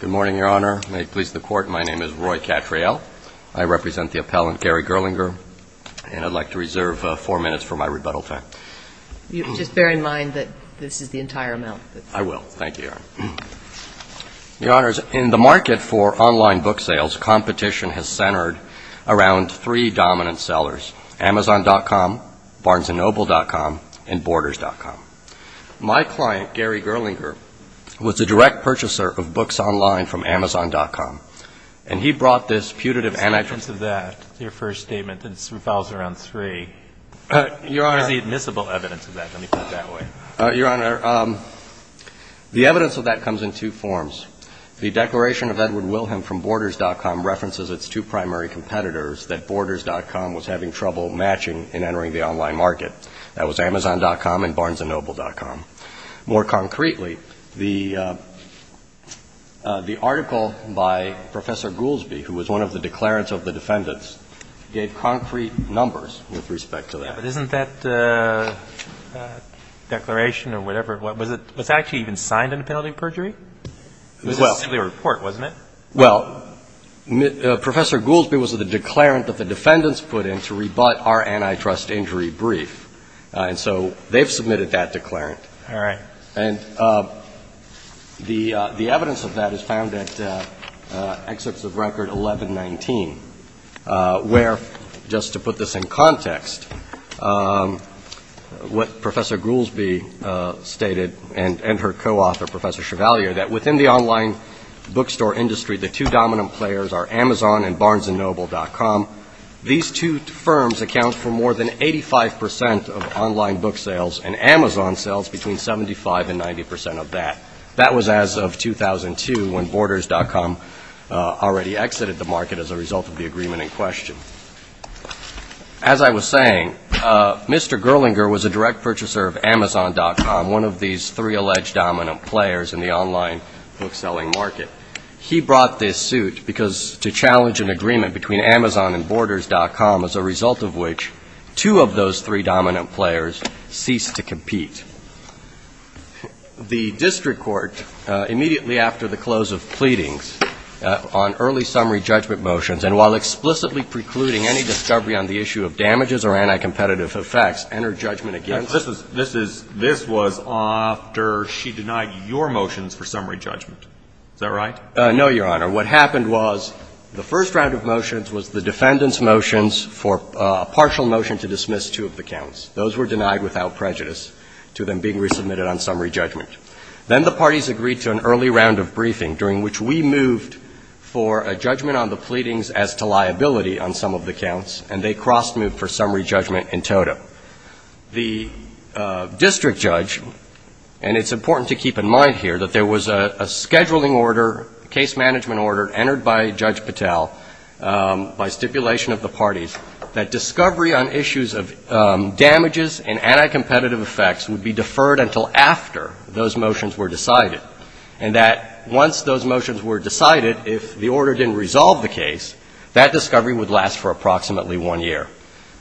Good morning, Your Honor. May it please the Court, my name is Roy Cattrall. I represent the appellant, Gary Gerlinger, and I'd like to reserve four minutes for my rebuttal time. Just bear in mind that this is the entire amount. Your Honor, in the market for online book sales, competition has centered around three dominant sellers, Amazon.com, BarnesandNoble.com, and Borders.com. My client, Gary Gerlinger, was a direct purchaser of books online from Amazon.com, and he brought this putative What's the evidence of that, your first statement? It revolves around three. What is the admissible evidence of that? Let me put it that way. Your Honor, the evidence of that comes in two forms. The declaration of Edward Wilhelm from Borders.com references its two primary competitors that Borders.com was having trouble matching in entering the online market. That was Amazon.com and BarnesandNoble.com. More concretely, the article by Professor Goolsbee, who was one of the declarants of the defendants, gave concrete numbers with respect to that. Yeah, but isn't that declaration or whatever, was it actually even signed into penalty of perjury? It was simply a report, wasn't it? Well, Professor Goolsbee was the declarant that the defendants put in to rebut our antitrust injury brief. And so they've submitted that declarant. All right. And the evidence of that is found at Excerpts of Record 1119, where, just to put this in context, what Professor Goolsbee stated and her co-author, Professor Chevalier, that within the online bookstore industry, the two dominant players are Amazon and BarnesandNoble.com. These two firms account for more than 85 percent of online book sales, and Amazon sells between 75 and 90 percent of that. That was as of 2002, when Borders.com already exited the market as a result of the agreement in question. As I was saying, Mr. Gerlinger was a direct purchaser of Amazon.com, one of these three alleged dominant players in the online book-selling market. He brought this suit to challenge an agreement between Amazon and Borders.com, as a result of which two of those three dominant players ceased to compete. The district court, immediately after the close of pleadings on early summary judgment motions, and while explicitly precluding any discovery on the issue of damages or anticompetitive effects, entered judgment against her. This was after she denied your motions for summary judgment. Is that right? No, Your Honor. What happened was the first round of motions was the defendant's motions for a partial motion to dismiss two of the counts. Those were denied without prejudice to them being resubmitted on summary judgment. Then the parties agreed to an early round of briefing, during which we moved for a judgment on the pleadings as to liability on some of the counts, and they cross-moved for summary judgment in toto. The district judge, and it's important to keep in mind here, that there was a scheduling order, a case management order, entered by Judge Patel, by stipulation of the parties, that discovery on issues of damages and anticompetitive effects would be deferred until after those motions were decided, and that once those motions were decided, if the order didn't resolve the case, that discovery would last for approximately one year.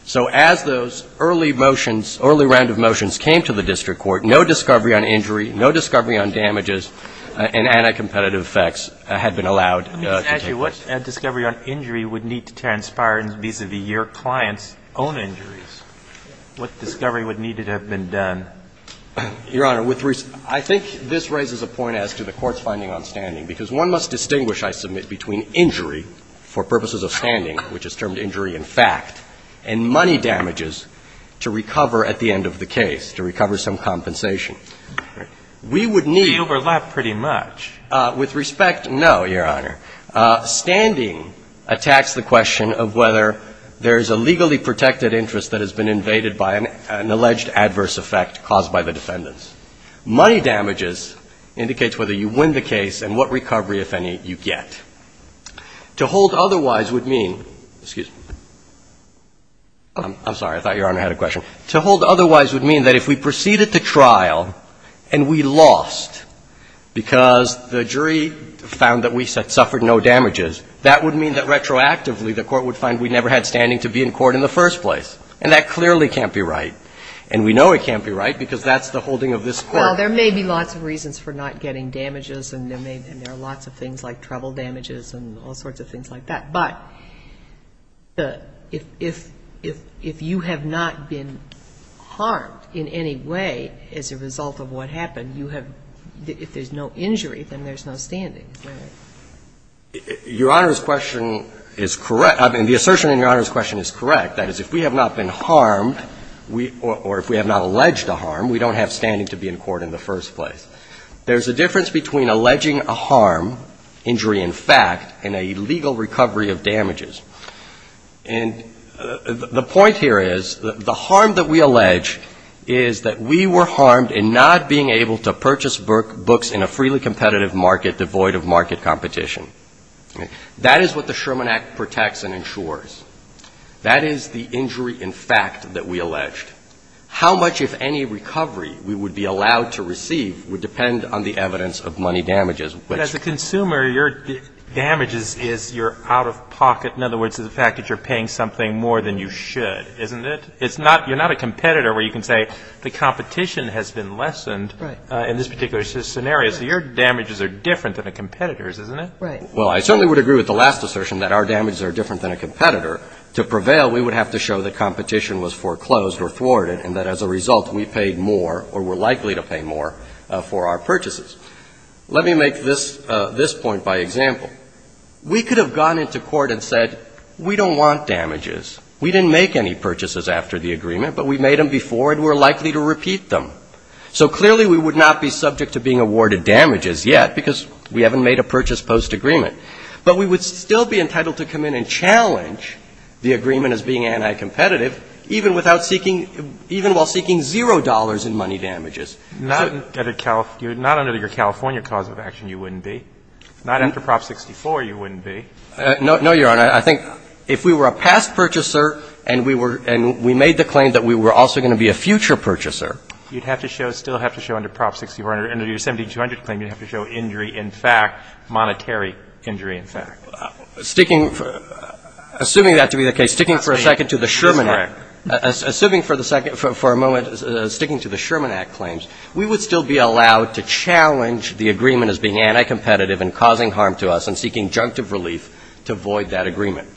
So as those early motions, early round of motions came to the district court, no discovery on injury, no discovery on damages and anticompetitive effects had been allowed to take place. Let me just ask you, what discovery on injury would need to transpire vis-à-vis your client's own injuries? What discovery would need to have been done? Your Honor, with respect, I think this raises a point as to the Court's finding on standing, because one must distinguish, I submit, between injury for purposes of standing, which is termed injury in fact, and money damages to recover at the end of the case, to recover some compensation. We would need to... They overlap pretty much. With respect, no, Your Honor. Standing attacks the question of whether there is a legally protected interest that has been invaded by an alleged adverse effect caused by the defendants. Money damages indicates whether you win the case and what recovery, if any, you get. To hold otherwise would mean, excuse me. I'm sorry. I thought Your Honor had a question. To hold otherwise would mean that if we proceeded to trial and we lost because the jury found that we suffered no damages, that would mean that retroactively the Court would find we never had standing to be in court in the first place. And that clearly can't be right. And we know it can't be right because that's the holding of this Court. Well, there may be lots of reasons for not getting damages, and there are lots of things like trouble damages and all sorts of things like that. But if you have not been harmed in any way as a result of what happened, you have – if there's no injury, then there's no standing, right? Your Honor's question is correct. I mean, the assertion in Your Honor's question is correct. That is, if we have not been harmed or if we have not alleged a harm, we don't have standing to be in court in the first place. There's a difference between alleging a harm, injury in fact, and a legal recovery of damages. And the point here is the harm that we allege is that we were harmed in not being able to purchase books in a freely competitive market devoid of market competition. That is what the Sherman Act protects and ensures. That is the injury in fact that we alleged. How much, if any, recovery we would be allowed to receive would depend on the evidence of money damages. But as a consumer, your damages is your out-of-pocket. In other words, it's the fact that you're paying something more than you should, isn't it? It's not – you're not a competitor where you can say the competition has been lessened in this particular scenario. So your damages are different than a competitor's, isn't it? Right. Well, I certainly would agree with the last assertion that our damages are different than a competitor. We would have to show that competition was foreclosed or thwarted and that as a result we paid more or were likely to pay more for our purchases. Let me make this point by example. We could have gone into court and said we don't want damages. We didn't make any purchases after the agreement, but we made them before and we're likely to repeat them. So clearly we would not be subject to being awarded damages yet because we haven't made a purchase post-agreement. But we would still be entitled to come in and challenge the agreement as being anti-competitive even without seeking – even while seeking zero dollars in money damages. Not under your California cause of action you wouldn't be. Not after Prop 64 you wouldn't be. No, Your Honor. I think if we were a past purchaser and we were – and we made the claim that we were also going to be a future purchaser. You'd have to show – still have to show under Prop 64 – under your 17200 claim you'd have to show injury in fact, monetary injury in fact. Sticking – assuming that to be the case, sticking for a second to the Sherman Act. Correct. Assuming for the second – for a moment sticking to the Sherman Act claims, we would still be allowed to challenge the agreement as being anti-competitive and causing harm to us and seeking junctive relief to void that agreement.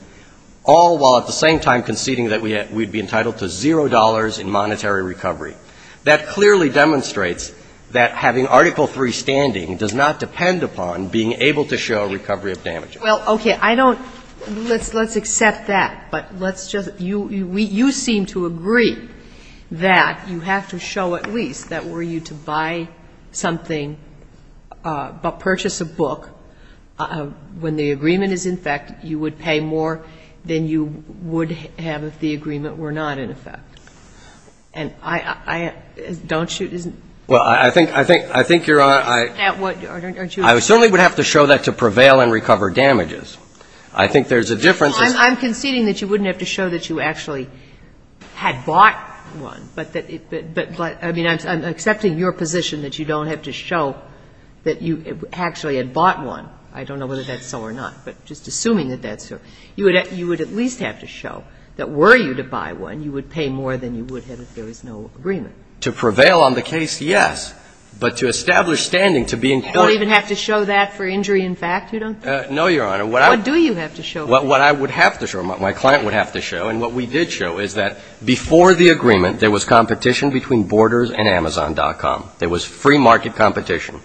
All while at the same time conceding that we'd be entitled to zero dollars in monetary recovery. That clearly demonstrates that having Article III standing does not depend upon being able to show recovery of damages. Well, okay. I don't – let's accept that. But let's just – you seem to agree that you have to show at least that were you to buy something – purchase a book, when the agreement is in fact you would pay more than you would have if the agreement were not in effect. And I – don't you – isn't it? Well, I think you're – I certainly would have to show that to prevail and recover damages. I think there's a difference. I'm conceding that you wouldn't have to show that you actually had bought one. But I mean, I'm accepting your position that you don't have to show that you actually had bought one. I don't know whether that's so or not. But just assuming that that's so. You would at least have to show that were you to buy one, you would pay more than you would have if there was no agreement. To prevail on the case, yes. But to establish standing, to be in court – You don't even have to show that for injury in fact, you don't? No, Your Honor. What do you have to show? What I would have to show, what my client would have to show, and what we did show is that before the agreement, there was competition between Borders and Amazon.com. There was free market competition,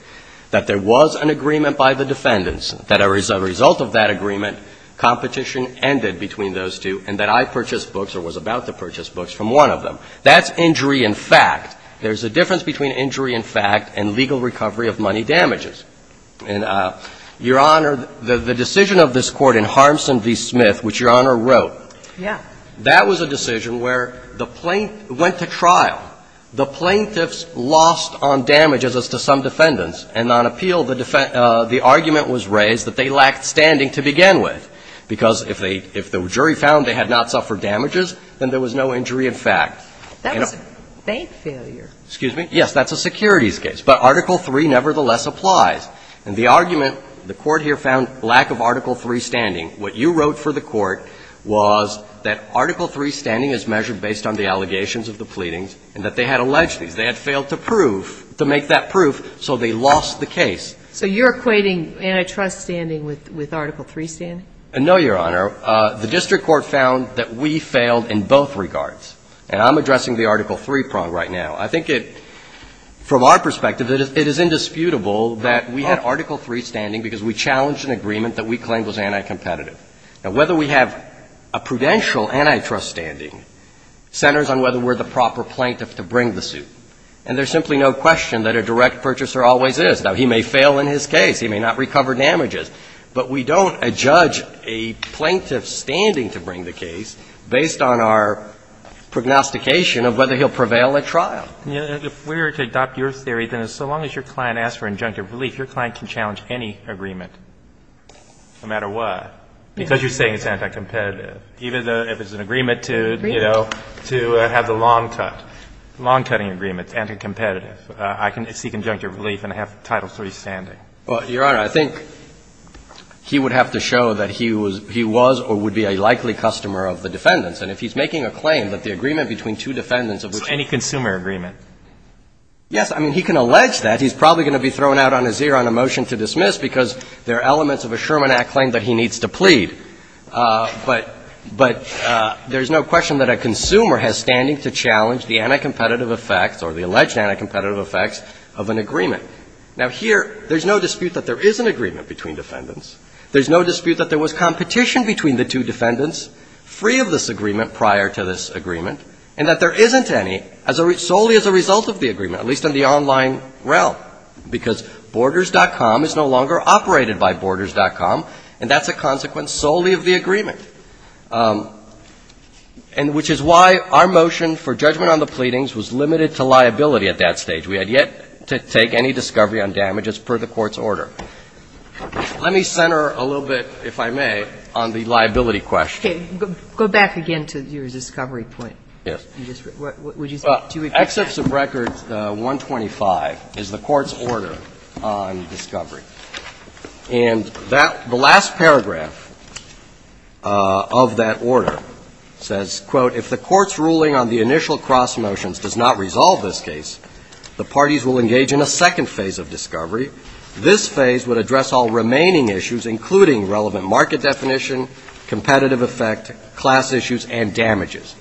that there was an agreement by the defendants that a result of that agreement, competition ended between those two, and that I purchased books or was about to purchase books from one of them. That's injury in fact. There's a difference between injury in fact and legal recovery of money damages. And, Your Honor, the decision of this Court in Harmson v. Smith, which Your Honor wrote, that was a decision where the plaintiff went to trial. The plaintiffs lost on damages as to some defendants. And on appeal, the argument was raised that they lacked standing to begin with. Because if the jury found they had not suffered damages, then there was no injury in fact. That was a bank failure. Excuse me? Yes, that's a securities case. But Article III nevertheless applies. And the argument, the Court here found lack of Article III standing. What you wrote for the Court was that Article III standing is measured based on the allegations of the pleadings, and that they had alleged these. They had failed to prove, to make that proof, so they lost the case. So you're equating antitrust standing with Article III standing? No, Your Honor. The district court found that we failed in both regards. And I'm addressing the Article III prong right now. I think it, from our perspective, it is indisputable that we had Article III standing because we challenged an agreement that we claimed was anticompetitive. Now, whether we have a prudential antitrust standing centers on whether we're the And there's simply no question that a direct purchaser always is. Now, he may fail in his case. He may not recover damages. But we don't adjudge a plaintiff's standing to bring the case based on our prognostication of whether he'll prevail at trial. If we were to adopt your theory, then so long as your client asks for injunctive relief, your client can challenge any agreement, no matter what, because you're saying it's anticompetitive, even if it's an agreement to, you know, to have the lawn cut, lawn-cutting agreement, it's anticompetitive. I can seek injunctive relief and have Title III standing. Well, Your Honor, I think he would have to show that he was or would be a likely customer of the defendants. And if he's making a claim that the agreement between two defendants of which he's So any consumer agreement? Yes. I mean, he can allege that. He's probably going to be thrown out on his ear on a motion to dismiss because there are elements of a Sherman Act claim that he needs to plead. But there's no question that a consumer has standing to challenge the anticompetitive effects or the alleged anticompetitive effects of an agreement. Now, here, there's no dispute that there is an agreement between defendants. There's no dispute that there was competition between the two defendants free of this agreement prior to this agreement and that there isn't any solely as a result of the agreement, at least in the online realm, because Borders.com is no longer operated by Borders.com, and that's a consequence solely of the agreement, which is why our motion for judgment on the pleadings was limited to liability at that stage. We had yet to take any discovery on damages per the court's order. Let me center a little bit, if I may, on the liability question. Okay. Go back again to your discovery point. Yes. Would you say to repeat? Excess of record 125 is the court's order on discovery. And that the last paragraph of that order says, quote, if the court's ruling on the initial cross motions does not resolve this case, the parties will engage in a second phase of discovery. This phase would address all remaining issues, including relevant market definition, competitive effect, class issues, and damages.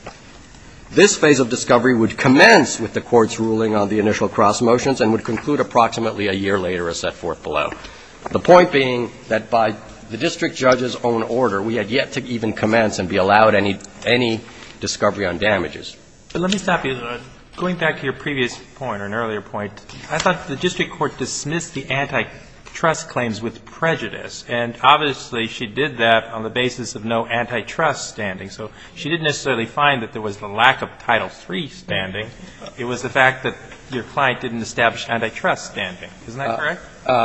This phase of discovery would commence with the court's ruling on the initial cross motions and would conclude approximately a year later as set forth below. The point being that by the district judge's own order, we had yet to even commence and be allowed any discovery on damages. But let me stop you. Going back to your previous point or an earlier point, I thought the district court dismissed the antitrust claims with prejudice. And obviously, she did that on the basis of no antitrust standing. So she didn't necessarily find that there was the lack of Title III standing. It was the fact that your client didn't establish antitrust standing. Isn't that correct?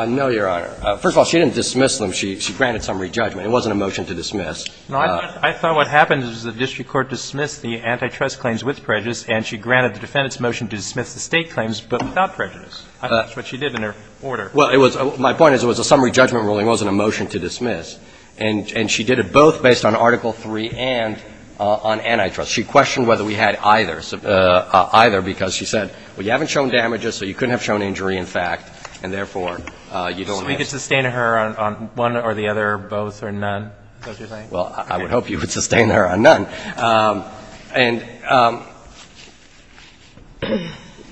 No, Your Honor. First of all, she didn't dismiss them. She granted summary judgment. It wasn't a motion to dismiss. No, I thought what happened is the district court dismissed the antitrust claims with prejudice, and she granted the defendant's motion to dismiss the State claims but without prejudice. I think that's what she did in her order. Well, it was my point is it was a summary judgment ruling. It wasn't a motion to dismiss. And she did it both based on Article III and on antitrust. She questioned whether we had either, because she said, well, you haven't shown damages, so you couldn't have shown injury in fact, and therefore, you don't have this. So we could sustain her on one or the other, both or none, is that what you're saying? Well, I would hope you would sustain her on none. And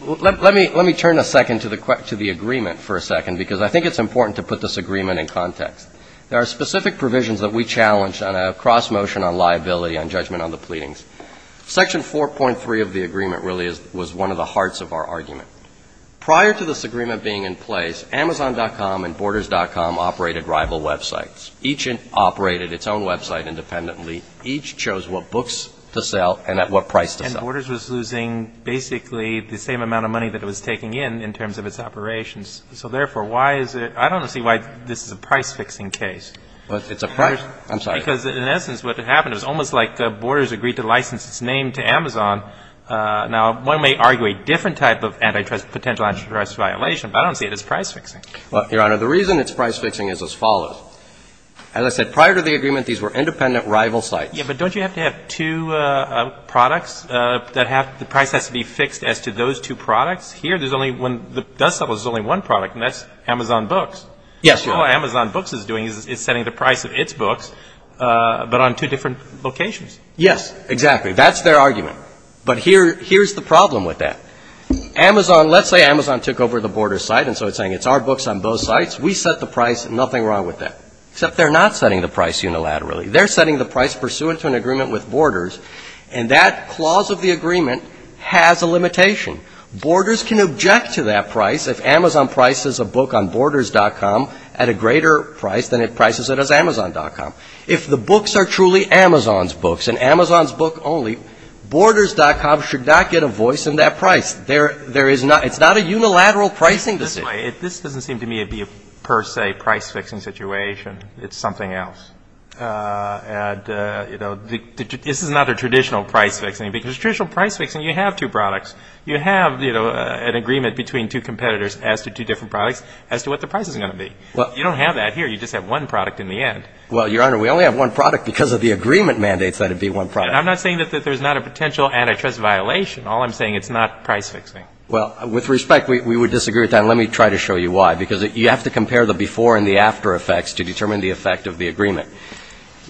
let me turn a second to the agreement for a second, because I think it's important to put this agreement in context. There are specific provisions that we challenged on a cross motion on liability on judgment on the pleadings. Section 4.3 of the agreement really was one of the hearts of our argument. Prior to this agreement being in place, Amazon.com and Borders.com operated rival websites. Each operated its own website independently. Each chose what books to sell and at what price to sell. And Borders was losing basically the same amount of money that it was taking in, in terms of its operations. So therefore, why is it – I don't see why this is a price-fixing case. But it's a price – I'm sorry. Because in essence, what happened is almost like Borders agreed to license its name to Amazon. Now, one may argue a different type of antitrust – potential antitrust violation, but I don't see it as price-fixing. Well, Your Honor, the reason it's price-fixing is as follows. As I said, prior to the agreement, these were independent rival sites. Yes, but don't you have to have two products that have – the price has to be fixed as to those two products? Here, there's only one – there's only one product, and that's Amazon Books. Yes, Your Honor. All Amazon Books is doing is setting the price of its books, but on two different locations. Yes, exactly. That's their argument. But here's the problem with that. Amazon – let's say Amazon took over the Borders site, and so it's saying, it's our books on both sites. We set the price. Nothing wrong with that. Except they're not setting the price unilaterally. They're setting the price pursuant to an agreement with Borders, and that clause of the agreement has a limitation. Borders can object to that price if Amazon prices a book on Borders.com at a greater price than it prices it as Amazon.com. If the books are truly Amazon's books and Amazon's book only, Borders.com should not get a voice in that price. There is not – it's not a unilateral pricing decision. This doesn't seem to me to be a per se price-fixing situation. It's something else. And, you know, this is not a traditional price-fixing. Because traditional price-fixing, you have two products. You have an agreement between two competitors as to two different products as to what the price is going to be. You don't have that here. You just have one product in the end. Well, Your Honor, we only have one product because of the agreement mandates that it be one product. I'm not saying that there's not a potential antitrust violation. All I'm saying, it's not price-fixing. Well, with respect, we would disagree with that, and let me try to show you why. Because you have to compare the before and the after effects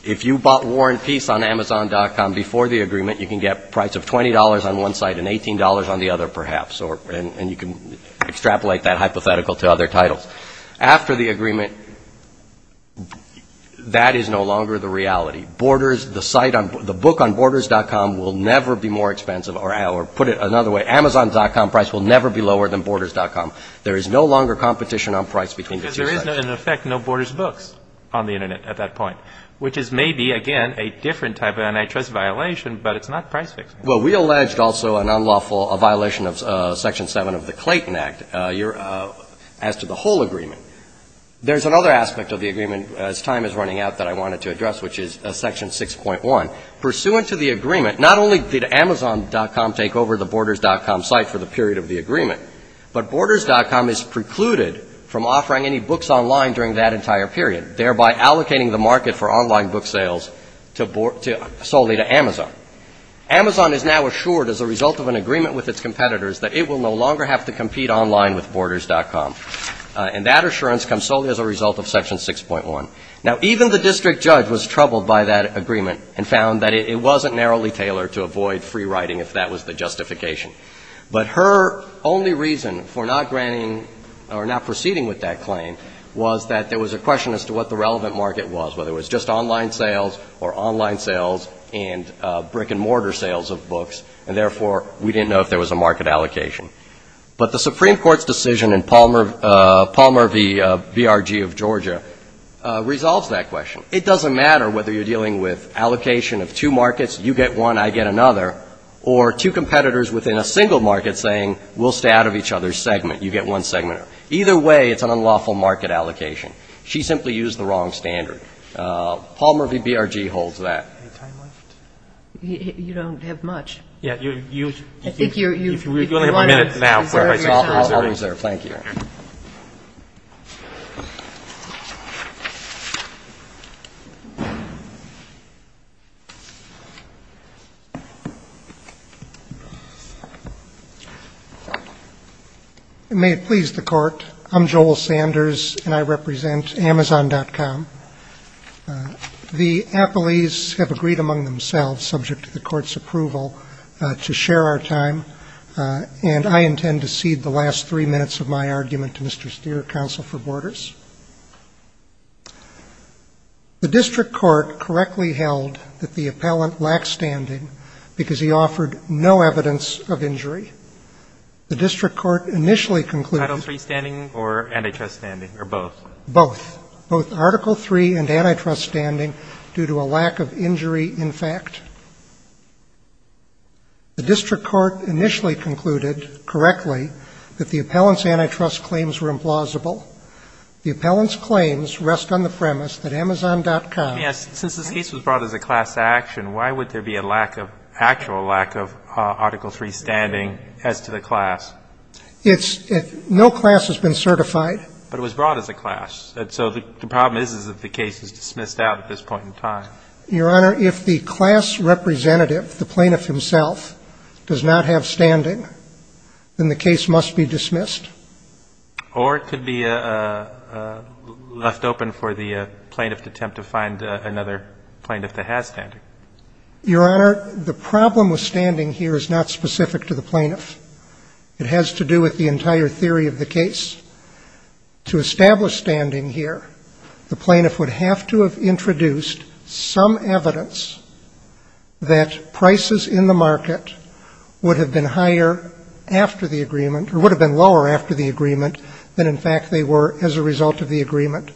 If you bought War and Peace on Amazon.com before the agreement, you can get a price of $20 on one site and $18 on the other, perhaps, and you can extrapolate that hypothetical to other titles. After the agreement, that is no longer the reality. Borders, the site, the book on Borders.com will never be more expensive, or put it another way, Amazon.com price will never be lower than Borders.com. There is no longer competition on price between the two sites. Because there is, in effect, no Borders books on the Internet at that point, which is maybe, again, a different type of antitrust violation, but it's not price-fixing. Well, we alleged also an unlawful violation of Section 7 of the Clayton Act as to the whole agreement. There's another aspect of the agreement, as time is running out, that I wanted to address, which is Section 6.1. Pursuant to the agreement, not only did Amazon.com take over the Borders.com site for the period of the agreement, but Borders.com is precluded from offering any books online during that entire period, thereby allocating the market for online book sales to solely to Amazon. Amazon is now assured as a result of an agreement with its competitors that it will no longer have to compete online with Borders.com. And that assurance comes solely as a result of Section 6.1. Now, even the district judge was troubled by that agreement and found that it wasn't narrowly tailored to avoid free writing if that was the justification. But her only reason for not granting or not proceeding with that claim was that there was a question as to what the relevant market was, whether it was just online sales or online sales and brick-and-mortar sales of books. And therefore, we didn't know if there was a market allocation. But the Supreme Court's decision in Palmer v. BRG of Georgia resolves that question. It doesn't matter whether you're dealing with allocation of two markets, you get one, I get another, or two competitors within a single market saying we'll stay out of each other's segment, you get one segment. Either way, it's an unlawful market allocation. She simply used the wrong standard. Palmer v. BRG holds that. Any time left? You don't have much. I think you're running out of time. I'll reserve. Thank you. May it please the Court. I'm Joel Sanders, and I represent Amazon.com. The appellees have agreed among themselves, subject to the Court's approval, to share our time, and I intend to cede the last three minutes of my argument to Mr. Steer, Counsel for Borders. The district court correctly held that the appellant lacked standing because he offered no evidence of injury. The district court initially concluded that both Article III and antitrust standing, due to a lack of injury in fact. The district court initially concluded correctly that the appellant's antitrust claims were implausible. The appellant's claims rest on the premise that Amazon.com Yes, since this case was brought as a class action, why would there be a lack of, actual lack of Article III standing as to the class? It's, no class has been certified. But it was brought as a class. So the problem is, is that the case is dismissed out at this point in time. Your Honor, if the class representative, the plaintiff himself, does not have standing, then the case must be dismissed. Or it could be left open for the plaintiff to attempt to find another plaintiff that has standing. Your Honor, the problem with standing here is not specific to the plaintiff. It has to do with the entire theory of the case. To establish standing here, the plaintiff would have to have introduced some evidence that prices in the market would have been higher after the agreement, or would have been lower after the agreement, than in fact they were as a result of the agreement.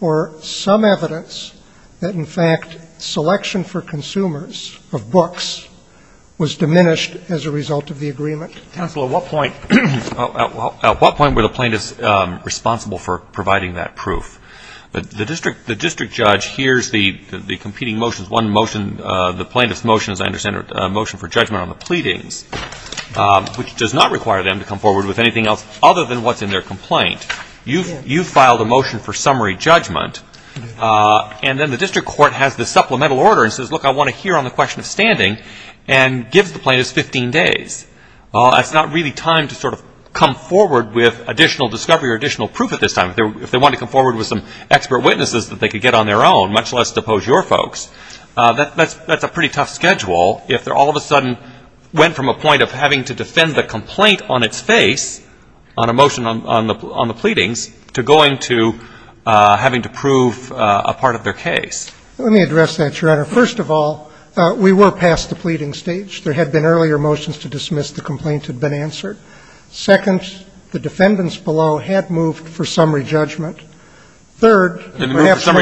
Or some evidence that in fact selection for consumers of books was diminished as a result of the agreement. Counsel, at what point were the plaintiffs responsible for providing that proof? The district judge hears the competing motions. One motion, the plaintiff's motion, as I understand it, a motion for judgment on the pleadings, which does not require them to come forward with anything else other than what's in their complaint. You filed a motion for summary judgment. And then the district court has the supplemental order and says, look, I want to hear on the question of standing, and gives the plaintiffs 15 days. That's not really time to sort of come forward with additional discovery or additional proof at this time. If they wanted to come forward with some expert witnesses that they could get on their own, much less depose your folks, that's a pretty tough schedule if they all of a sudden went from a point of having to defend the complaint on its face, on a motion on the pleadings, to going to having to prove a part of their case. Let me address that, Your Honor. First of all, we were past the pleading stage. There had been earlier motions to dismiss. The complaint had been answered. Second, the defendants below had moved for summary judgment. Third, perhaps the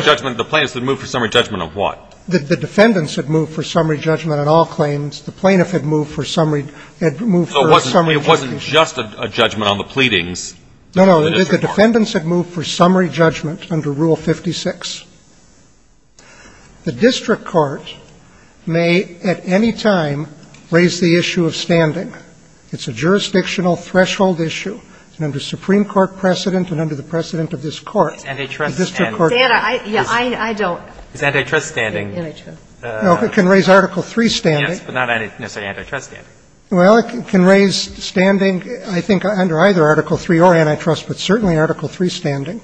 plaintiffs had moved for summary judgment on what? The defendants had moved for summary judgment on all claims. The plaintiff had moved for summary judgment. It wasn't just a judgment on the pleadings. No, no. The defendants had moved for summary judgment under Rule 56. The district court may at any time raise the issue of standing. It's a jurisdictional threshold issue. And under Supreme Court precedent and under the precedent of this Court, the district court can raise it. It's antitrust standing. No, it can raise Article III standing. Yes, but not necessarily antitrust standing. Well, it can raise standing, I think, under either Article III or antitrust, but certainly Article III standing.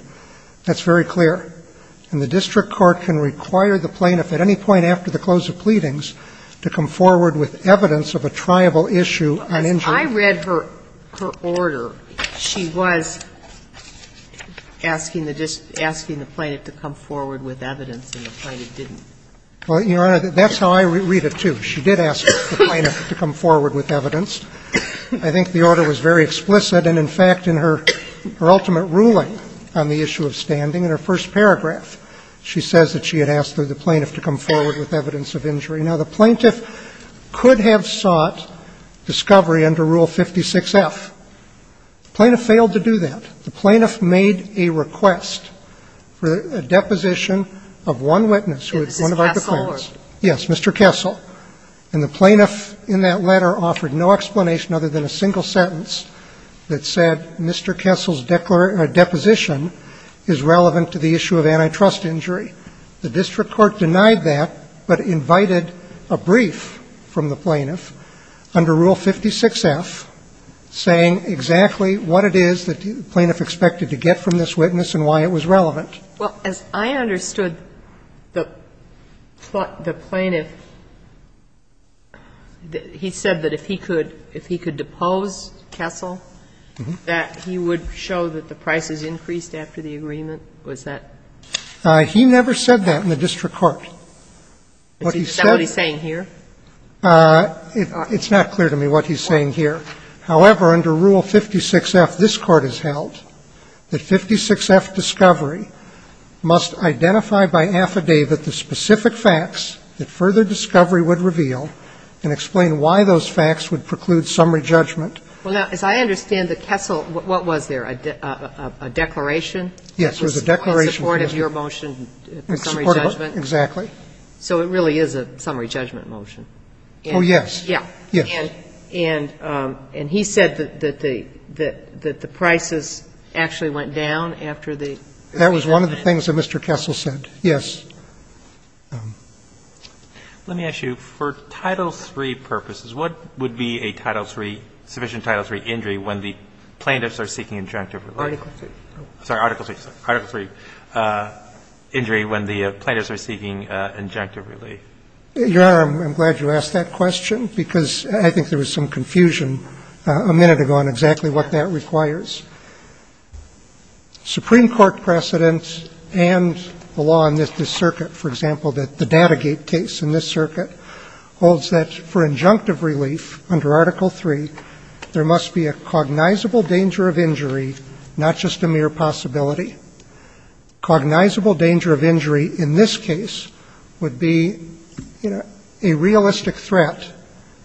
That's very clear. And the district court can require the plaintiff at any point after the close of pleadings to come forward with evidence of a triable issue on injury. Well, as I read her order, she was asking the plaintiff to come forward with evidence and the plaintiff didn't. Well, Your Honor, that's how I read it, too. She did ask the plaintiff to come forward with evidence. I think the order was very explicit. And in fact, in her ultimate ruling on the issue of standing, in her first paragraph, she says that she had asked the plaintiff to come forward with evidence of injury. Now, the plaintiff could have sought discovery under Rule 56F. The plaintiff failed to do that. The plaintiff made a request for a deposition of one witness who was one of our defendants. Yes, Mr. Kessel. And the plaintiff in that letter offered no explanation other than a single sentence that said Mr. Kessel's deposition is relevant to the issue of antitrust injury. The district court denied that, but invited a brief from the plaintiff under Rule 56F saying exactly what it is that the plaintiff expected to get from this witness and why it was relevant. Well, as I understood the plaintiff, he said that if he could, if he could depose Kessel, that he would show that the price is increased after the agreement. Was that? He never said that in the district court. Is that what he's saying here? It's not clear to me what he's saying here. However, under Rule 56F, this Court has held that 56F discovery must identify by affidavit the specific facts that further discovery would reveal and explain why those facts would preclude summary judgment. Well, now, as I understand the Kessel, what was there, a declaration? Yes, it was a declaration. In support of your motion for summary judgment. Exactly. So it really is a summary judgment motion. Oh, yes. Yes. And he said that the prices actually went down after the agreement. That was one of the things that Mr. Kessel said, yes. Let me ask you, for Title III purposes, what would be a Title III, sufficient Title III injury when the plaintiffs are seeking injunctive relief? Article III. Sorry, Article III. Article III injury when the plaintiffs are seeking injunctive relief. Your Honor, I'm glad you asked that question because I think there was some confusion a minute ago on exactly what that requires. Supreme Court precedent and the law in this circuit, for example, that the Datagate case in this circuit, holds that for injunctive relief under Article III, there must be a cognizable danger of injury, not just a mere possibility. Cognizable danger of injury in this case would be, you know, a realistic threat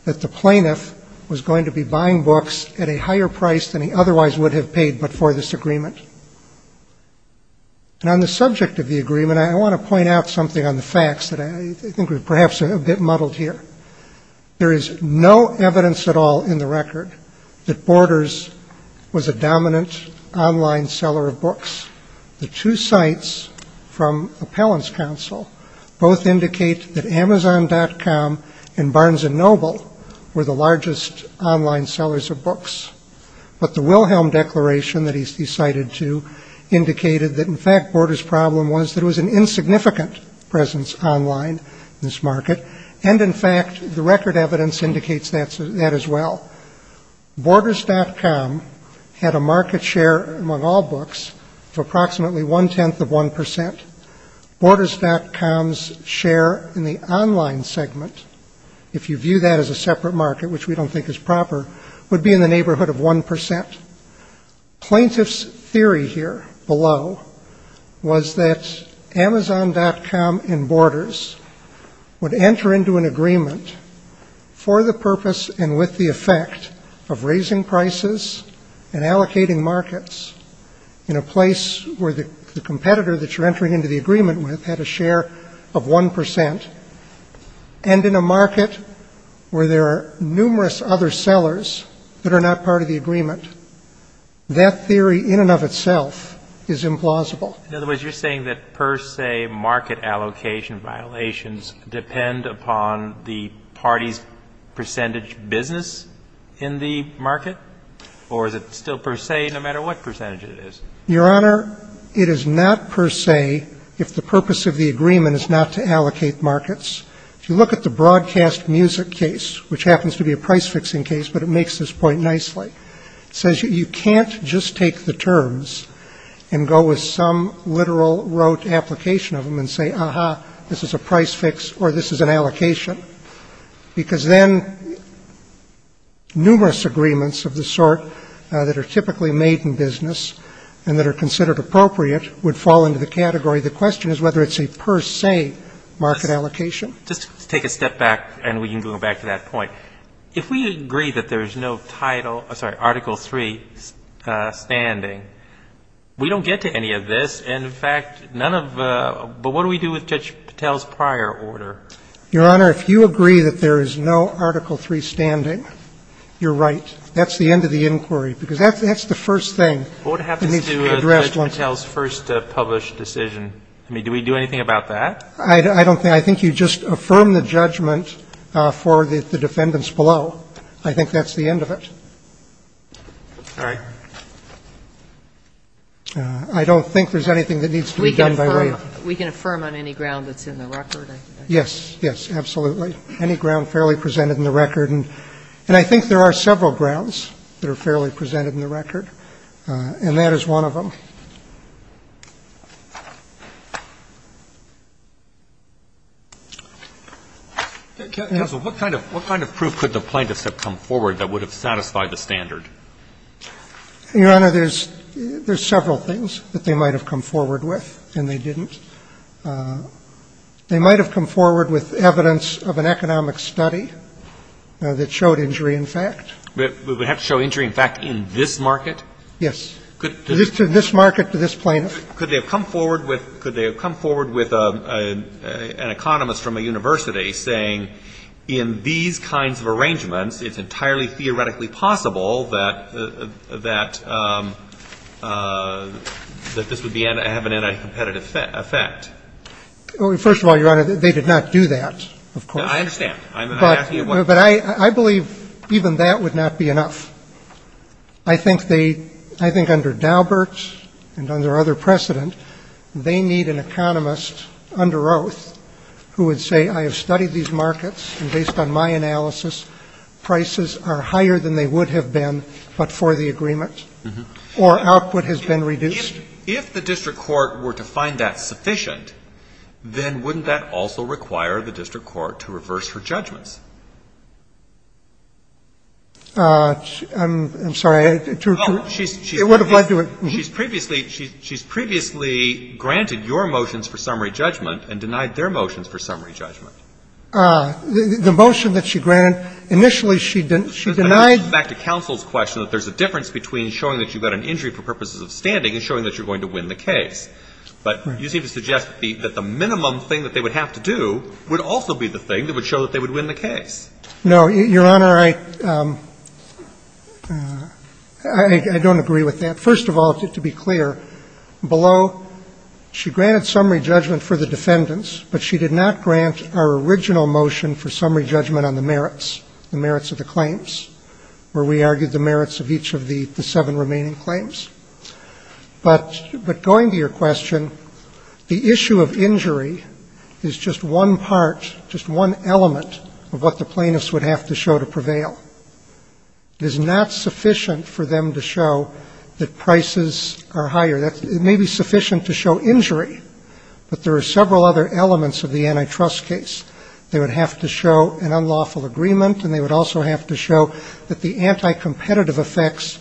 that the plaintiff was going to be buying books at a higher price than he otherwise would have paid before this agreement. And on the subject of the agreement, I want to point out something on the facts that I think are perhaps a bit muddled here. There is no evidence at all in the record that Borders was a dominant online seller of books. The two sites from Appellant's Counsel both indicate that Amazon.com and Barnes & Noble were the largest online sellers of books. But the Wilhelm Declaration that he's cited to indicated that, in fact, Borders' problem was that it was an insignificant presence online in this market. And, in fact, the record evidence indicates that as well. Borders.com had a market share among all books of approximately one-tenth of 1%. Borders.com's share in the online segment, if you view that as a separate market, which we don't think is proper, would be in the neighborhood of 1%. Plaintiff's theory here below was that Amazon.com and Borders would enter into an agreement for the purpose and with the effect of raising prices and allocating markets in a place where the competitor that you're entering into the agreement with had a share of 1%, and in a market where there are numerous other sellers that are not part of the agreement. That theory in and of itself is implausible. In other words, you're saying that per se market allocation violations depend upon the party's percentage business in the market? Or is it still per se no matter what percentage it is? Your Honor, it is not per se if the purpose of the agreement is not to allocate markets. If you look at the broadcast music case, which happens to be a price-fixing case, but it makes this point nicely, it says you can't just take the terms and go with some literal rote application of them and say, ah-ha, this is a price-fix or this is an allocation, because then numerous agreements of the sort that are typically made in business and that are considered appropriate would fall into the category. The question is whether it's a per se market allocation. Just to take a step back and we can go back to that point, if we agree that there is no Article III standing, you're right. That's the end of the inquiry, because that's the first thing that needs to be addressed. What happens to Judge Patel's first published decision? I mean, do we do anything about that? I don't think so. I think you just affirm the judgment for the defendants below. I think that's the end of it. All right. I don't think so. I don't think there's anything that needs to be done by way of. We can affirm on any ground that's in the record. Yes. Yes, absolutely. Any ground fairly presented in the record. And I think there are several grounds that are fairly presented in the record, and that is one of them. Counsel, what kind of proof could the plaintiffs have come forward that would have satisfied the standard? Your Honor, there's several things that they might have come forward with, and they didn't. They might have come forward with evidence of an economic study that showed injury in fact. We would have to show injury in fact in this market? Yes. To this market, to this plaintiff? Could they have come forward with an economist from a university saying, in these kinds of arrangements, it's entirely theoretically possible that this would have an anti-competitive effect? First of all, Your Honor, they did not do that, of course. I understand. But I believe even that would not be enough. I think under Daubert and under other precedent, they need an economist under oath who would say, I have studied these markets, and based on my analysis, prices are higher than they would have been but for the agreement, or output has been reduced. If the district court were to find that sufficient, then wouldn't that also require the district court to reverse her judgments? I'm sorry. It would have led to it. She's previously granted your motions for summary judgment and denied their motions for summary judgment. The motion that she granted, initially she denied. Back to counsel's question, that there's a difference between showing that you got an injury for purposes of standing and showing that you're going to win the case. But you seem to suggest that the minimum thing that they would have to do would also be the thing that would show that they would win the case. No, Your Honor, I don't agree with that. First of all, to be clear, below, she granted summary judgment for the defendants, but she did not grant our original motion for summary judgment on the merits, the merits of the claims, where we argued the merits of each of the seven remaining claims. But going to your question, the issue of injury is just one part, just one element is not sufficient for them to show that prices are higher. It may be sufficient to show injury, but there are several other elements of the antitrust case. They would have to show an unlawful agreement, and they would also have to show that the anti-competitive effects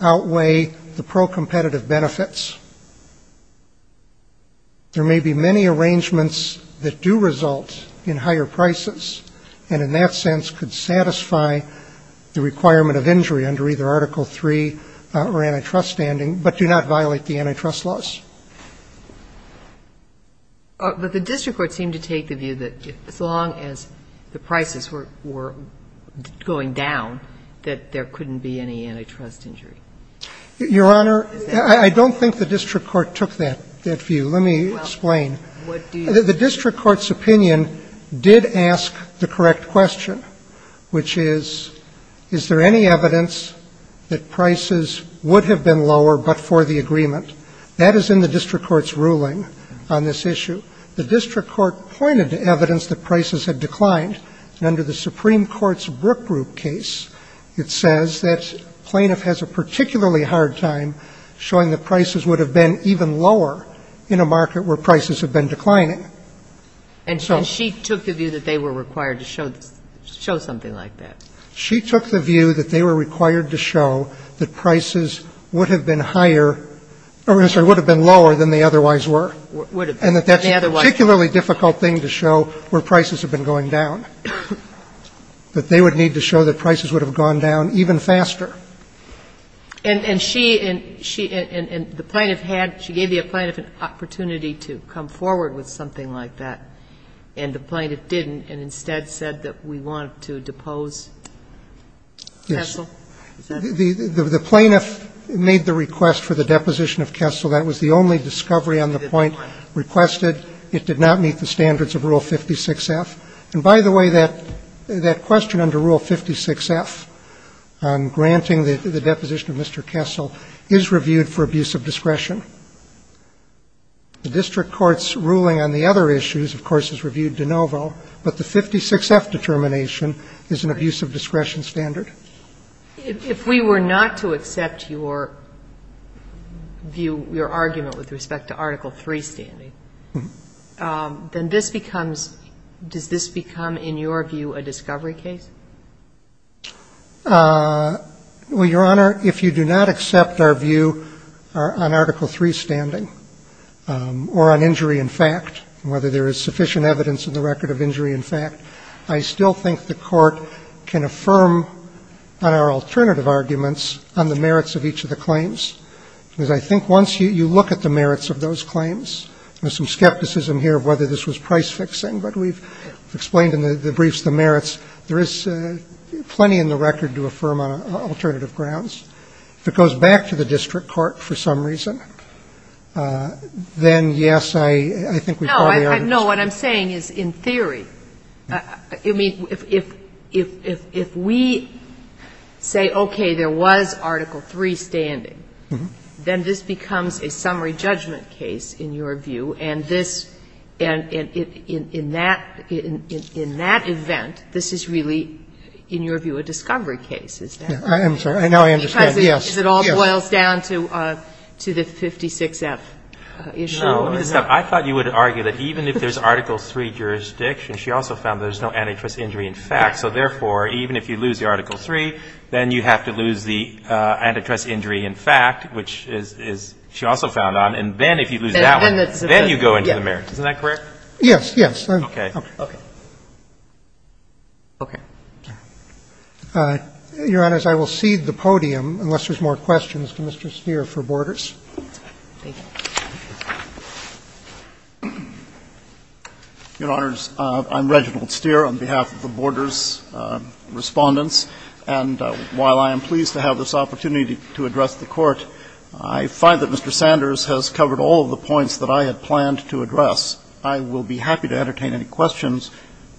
outweigh the pro-competitive benefits. There may be many arrangements that do result in higher prices, and in that sense could satisfy the requirement of injury under either Article III or antitrust standing, but do not violate the antitrust laws. But the district court seemed to take the view that as long as the prices were going down, that there couldn't be any antitrust injury. Your Honor, I don't think the district court took that view. Let me explain. The district court's opinion did ask the correct question. Which is, is there any evidence that prices would have been lower but for the agreement? That is in the district court's ruling on this issue. The district court pointed to evidence that prices had declined, and under the Supreme Court's Brook Group case, it says that plaintiff has a particularly hard time showing that prices would have been even lower in a market where prices have been declining. And so she took the view that they were required to show something like that. She took the view that they were required to show that prices would have been higher or, I'm sorry, would have been lower than they otherwise were. Would have been. And that that's a particularly difficult thing to show where prices have been going down, that they would need to show that prices would have gone down even faster. And she and the plaintiff had, she gave the plaintiff an opportunity to come forward with something like that, and the plaintiff didn't and instead said that we want to depose Kessel. Yes. The plaintiff made the request for the deposition of Kessel. That was the only discovery on the point requested. It did not meet the standards of Rule 56F. And by the way, that question under Rule 56F on granting the deposition of Mr. Kessel is reviewed for abuse of discretion. The district court's ruling on the other issues, of course, is reviewed de novo, but the 56F determination is an abuse of discretion standard. If we were not to accept your view, your argument with respect to Article III standing, then this becomes, does this become, in your view, a discovery case? Well, Your Honor, if you do not accept our view on Article III standing or on injury in fact, whether there is sufficient evidence in the record of injury in fact, I still think the Court can affirm on our alternative arguments on the merits of each of the claims, because I think once you look at the merits of those claims, there's some there's plenty in the record to affirm on alternative grounds. If it goes back to the district court for some reason, then, yes, I think we probably are. No. What I'm saying is, in theory, I mean, if we say, okay, there was Article III standing, then this becomes a summary judgment case, in your view, and this, and in that event, this is really, in your view, a discovery case. Is that right? I'm sorry. Now I understand. Yes. Because it all boils down to the 56F issue. No. I thought you would argue that even if there's Article III jurisdiction, she also found there's no antitrust injury in fact. So therefore, even if you lose the Article III, then you have to lose the antitrust injury in fact, which is, she also found, and then if you lose that one, then you go into the merits. Isn't that correct? Yes, yes. Okay. Okay. Okay. Your Honors, I will cede the podium unless there's more questions to Mr. Steere for Borders. Thank you. Your Honors, I'm Reginald Steere on behalf of the Borders Respondents. And while I am pleased to have this opportunity to address the Court, I find that I will be happy to entertain any questions,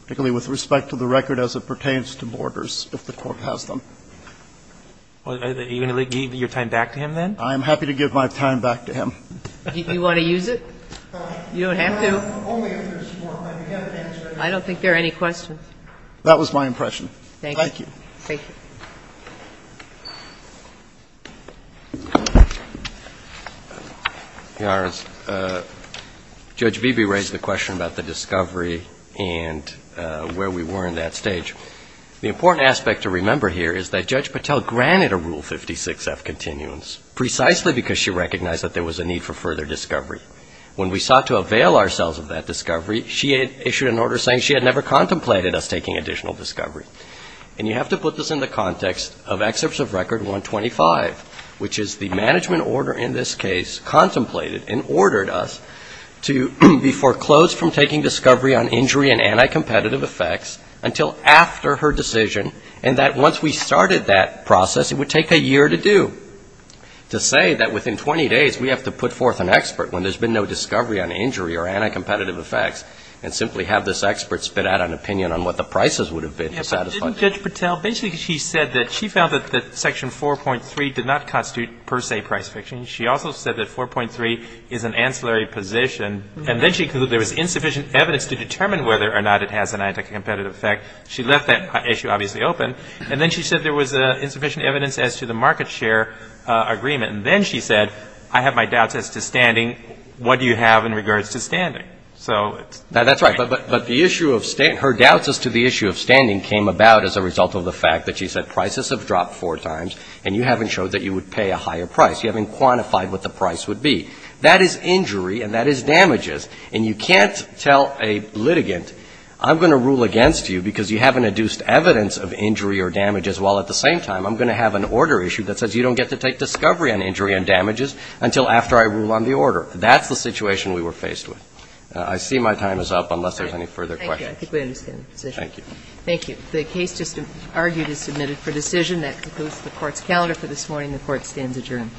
particularly with respect to the record as it pertains to Borders, if the Court has them. Are you going to give your time back to him then? I'm happy to give my time back to him. Do you want to use it? You don't have to. I don't think there are any questions. That was my impression. Thank you. Thank you. Your Honors, Judge Beebe raised the question about the discovery and where we were in that stage. The important aspect to remember here is that Judge Patel granted a Rule 56F continuance precisely because she recognized that there was a need for further discovery. When we sought to avail ourselves of that discovery, she issued an order saying she had never contemplated us taking additional discovery. And you have to put this in the context of Excerpts of Record 125, which is the management order in this case contemplated and ordered us to be foreclosed from taking discovery on injury and anti-competitive effects until after her decision, and that once we started that process, it would take a year to do. To say that within 20 days we have to put forth an expert when there's been no discovery on injury or anti-competitive effects, and simply have this expert spit out an opinion on what the prices would have been to satisfy that. But didn't Judge Patel, basically she said that she found that Section 4.3 did not constitute per se price fiction. She also said that 4.3 is an ancillary position. And then she concluded there was insufficient evidence to determine whether or not it has an anti-competitive effect. She left that issue obviously open. And then she said there was insufficient evidence as to the market share agreement. And then she said, I have my doubts as to standing. What do you have in regards to standing? That's right. But the issue of standing, her doubts as to the issue of standing came about as a result of the fact that she said prices have dropped four times, and you haven't showed that you would pay a higher price. You haven't quantified what the price would be. That is injury, and that is damages. And you can't tell a litigant, I'm going to rule against you because you haven't induced evidence of injury or damages, while at the same time, I'm going to have an order issue that says you don't get to take discovery on injury and damages until after I rule on the order. That's the situation we were faced with. I see my time is up unless there's any further questions. Thank you. I think we understand the position. Thank you. Thank you. The case just argued is submitted for decision. That concludes the Court's calendar for this morning. The Court stands adjourned.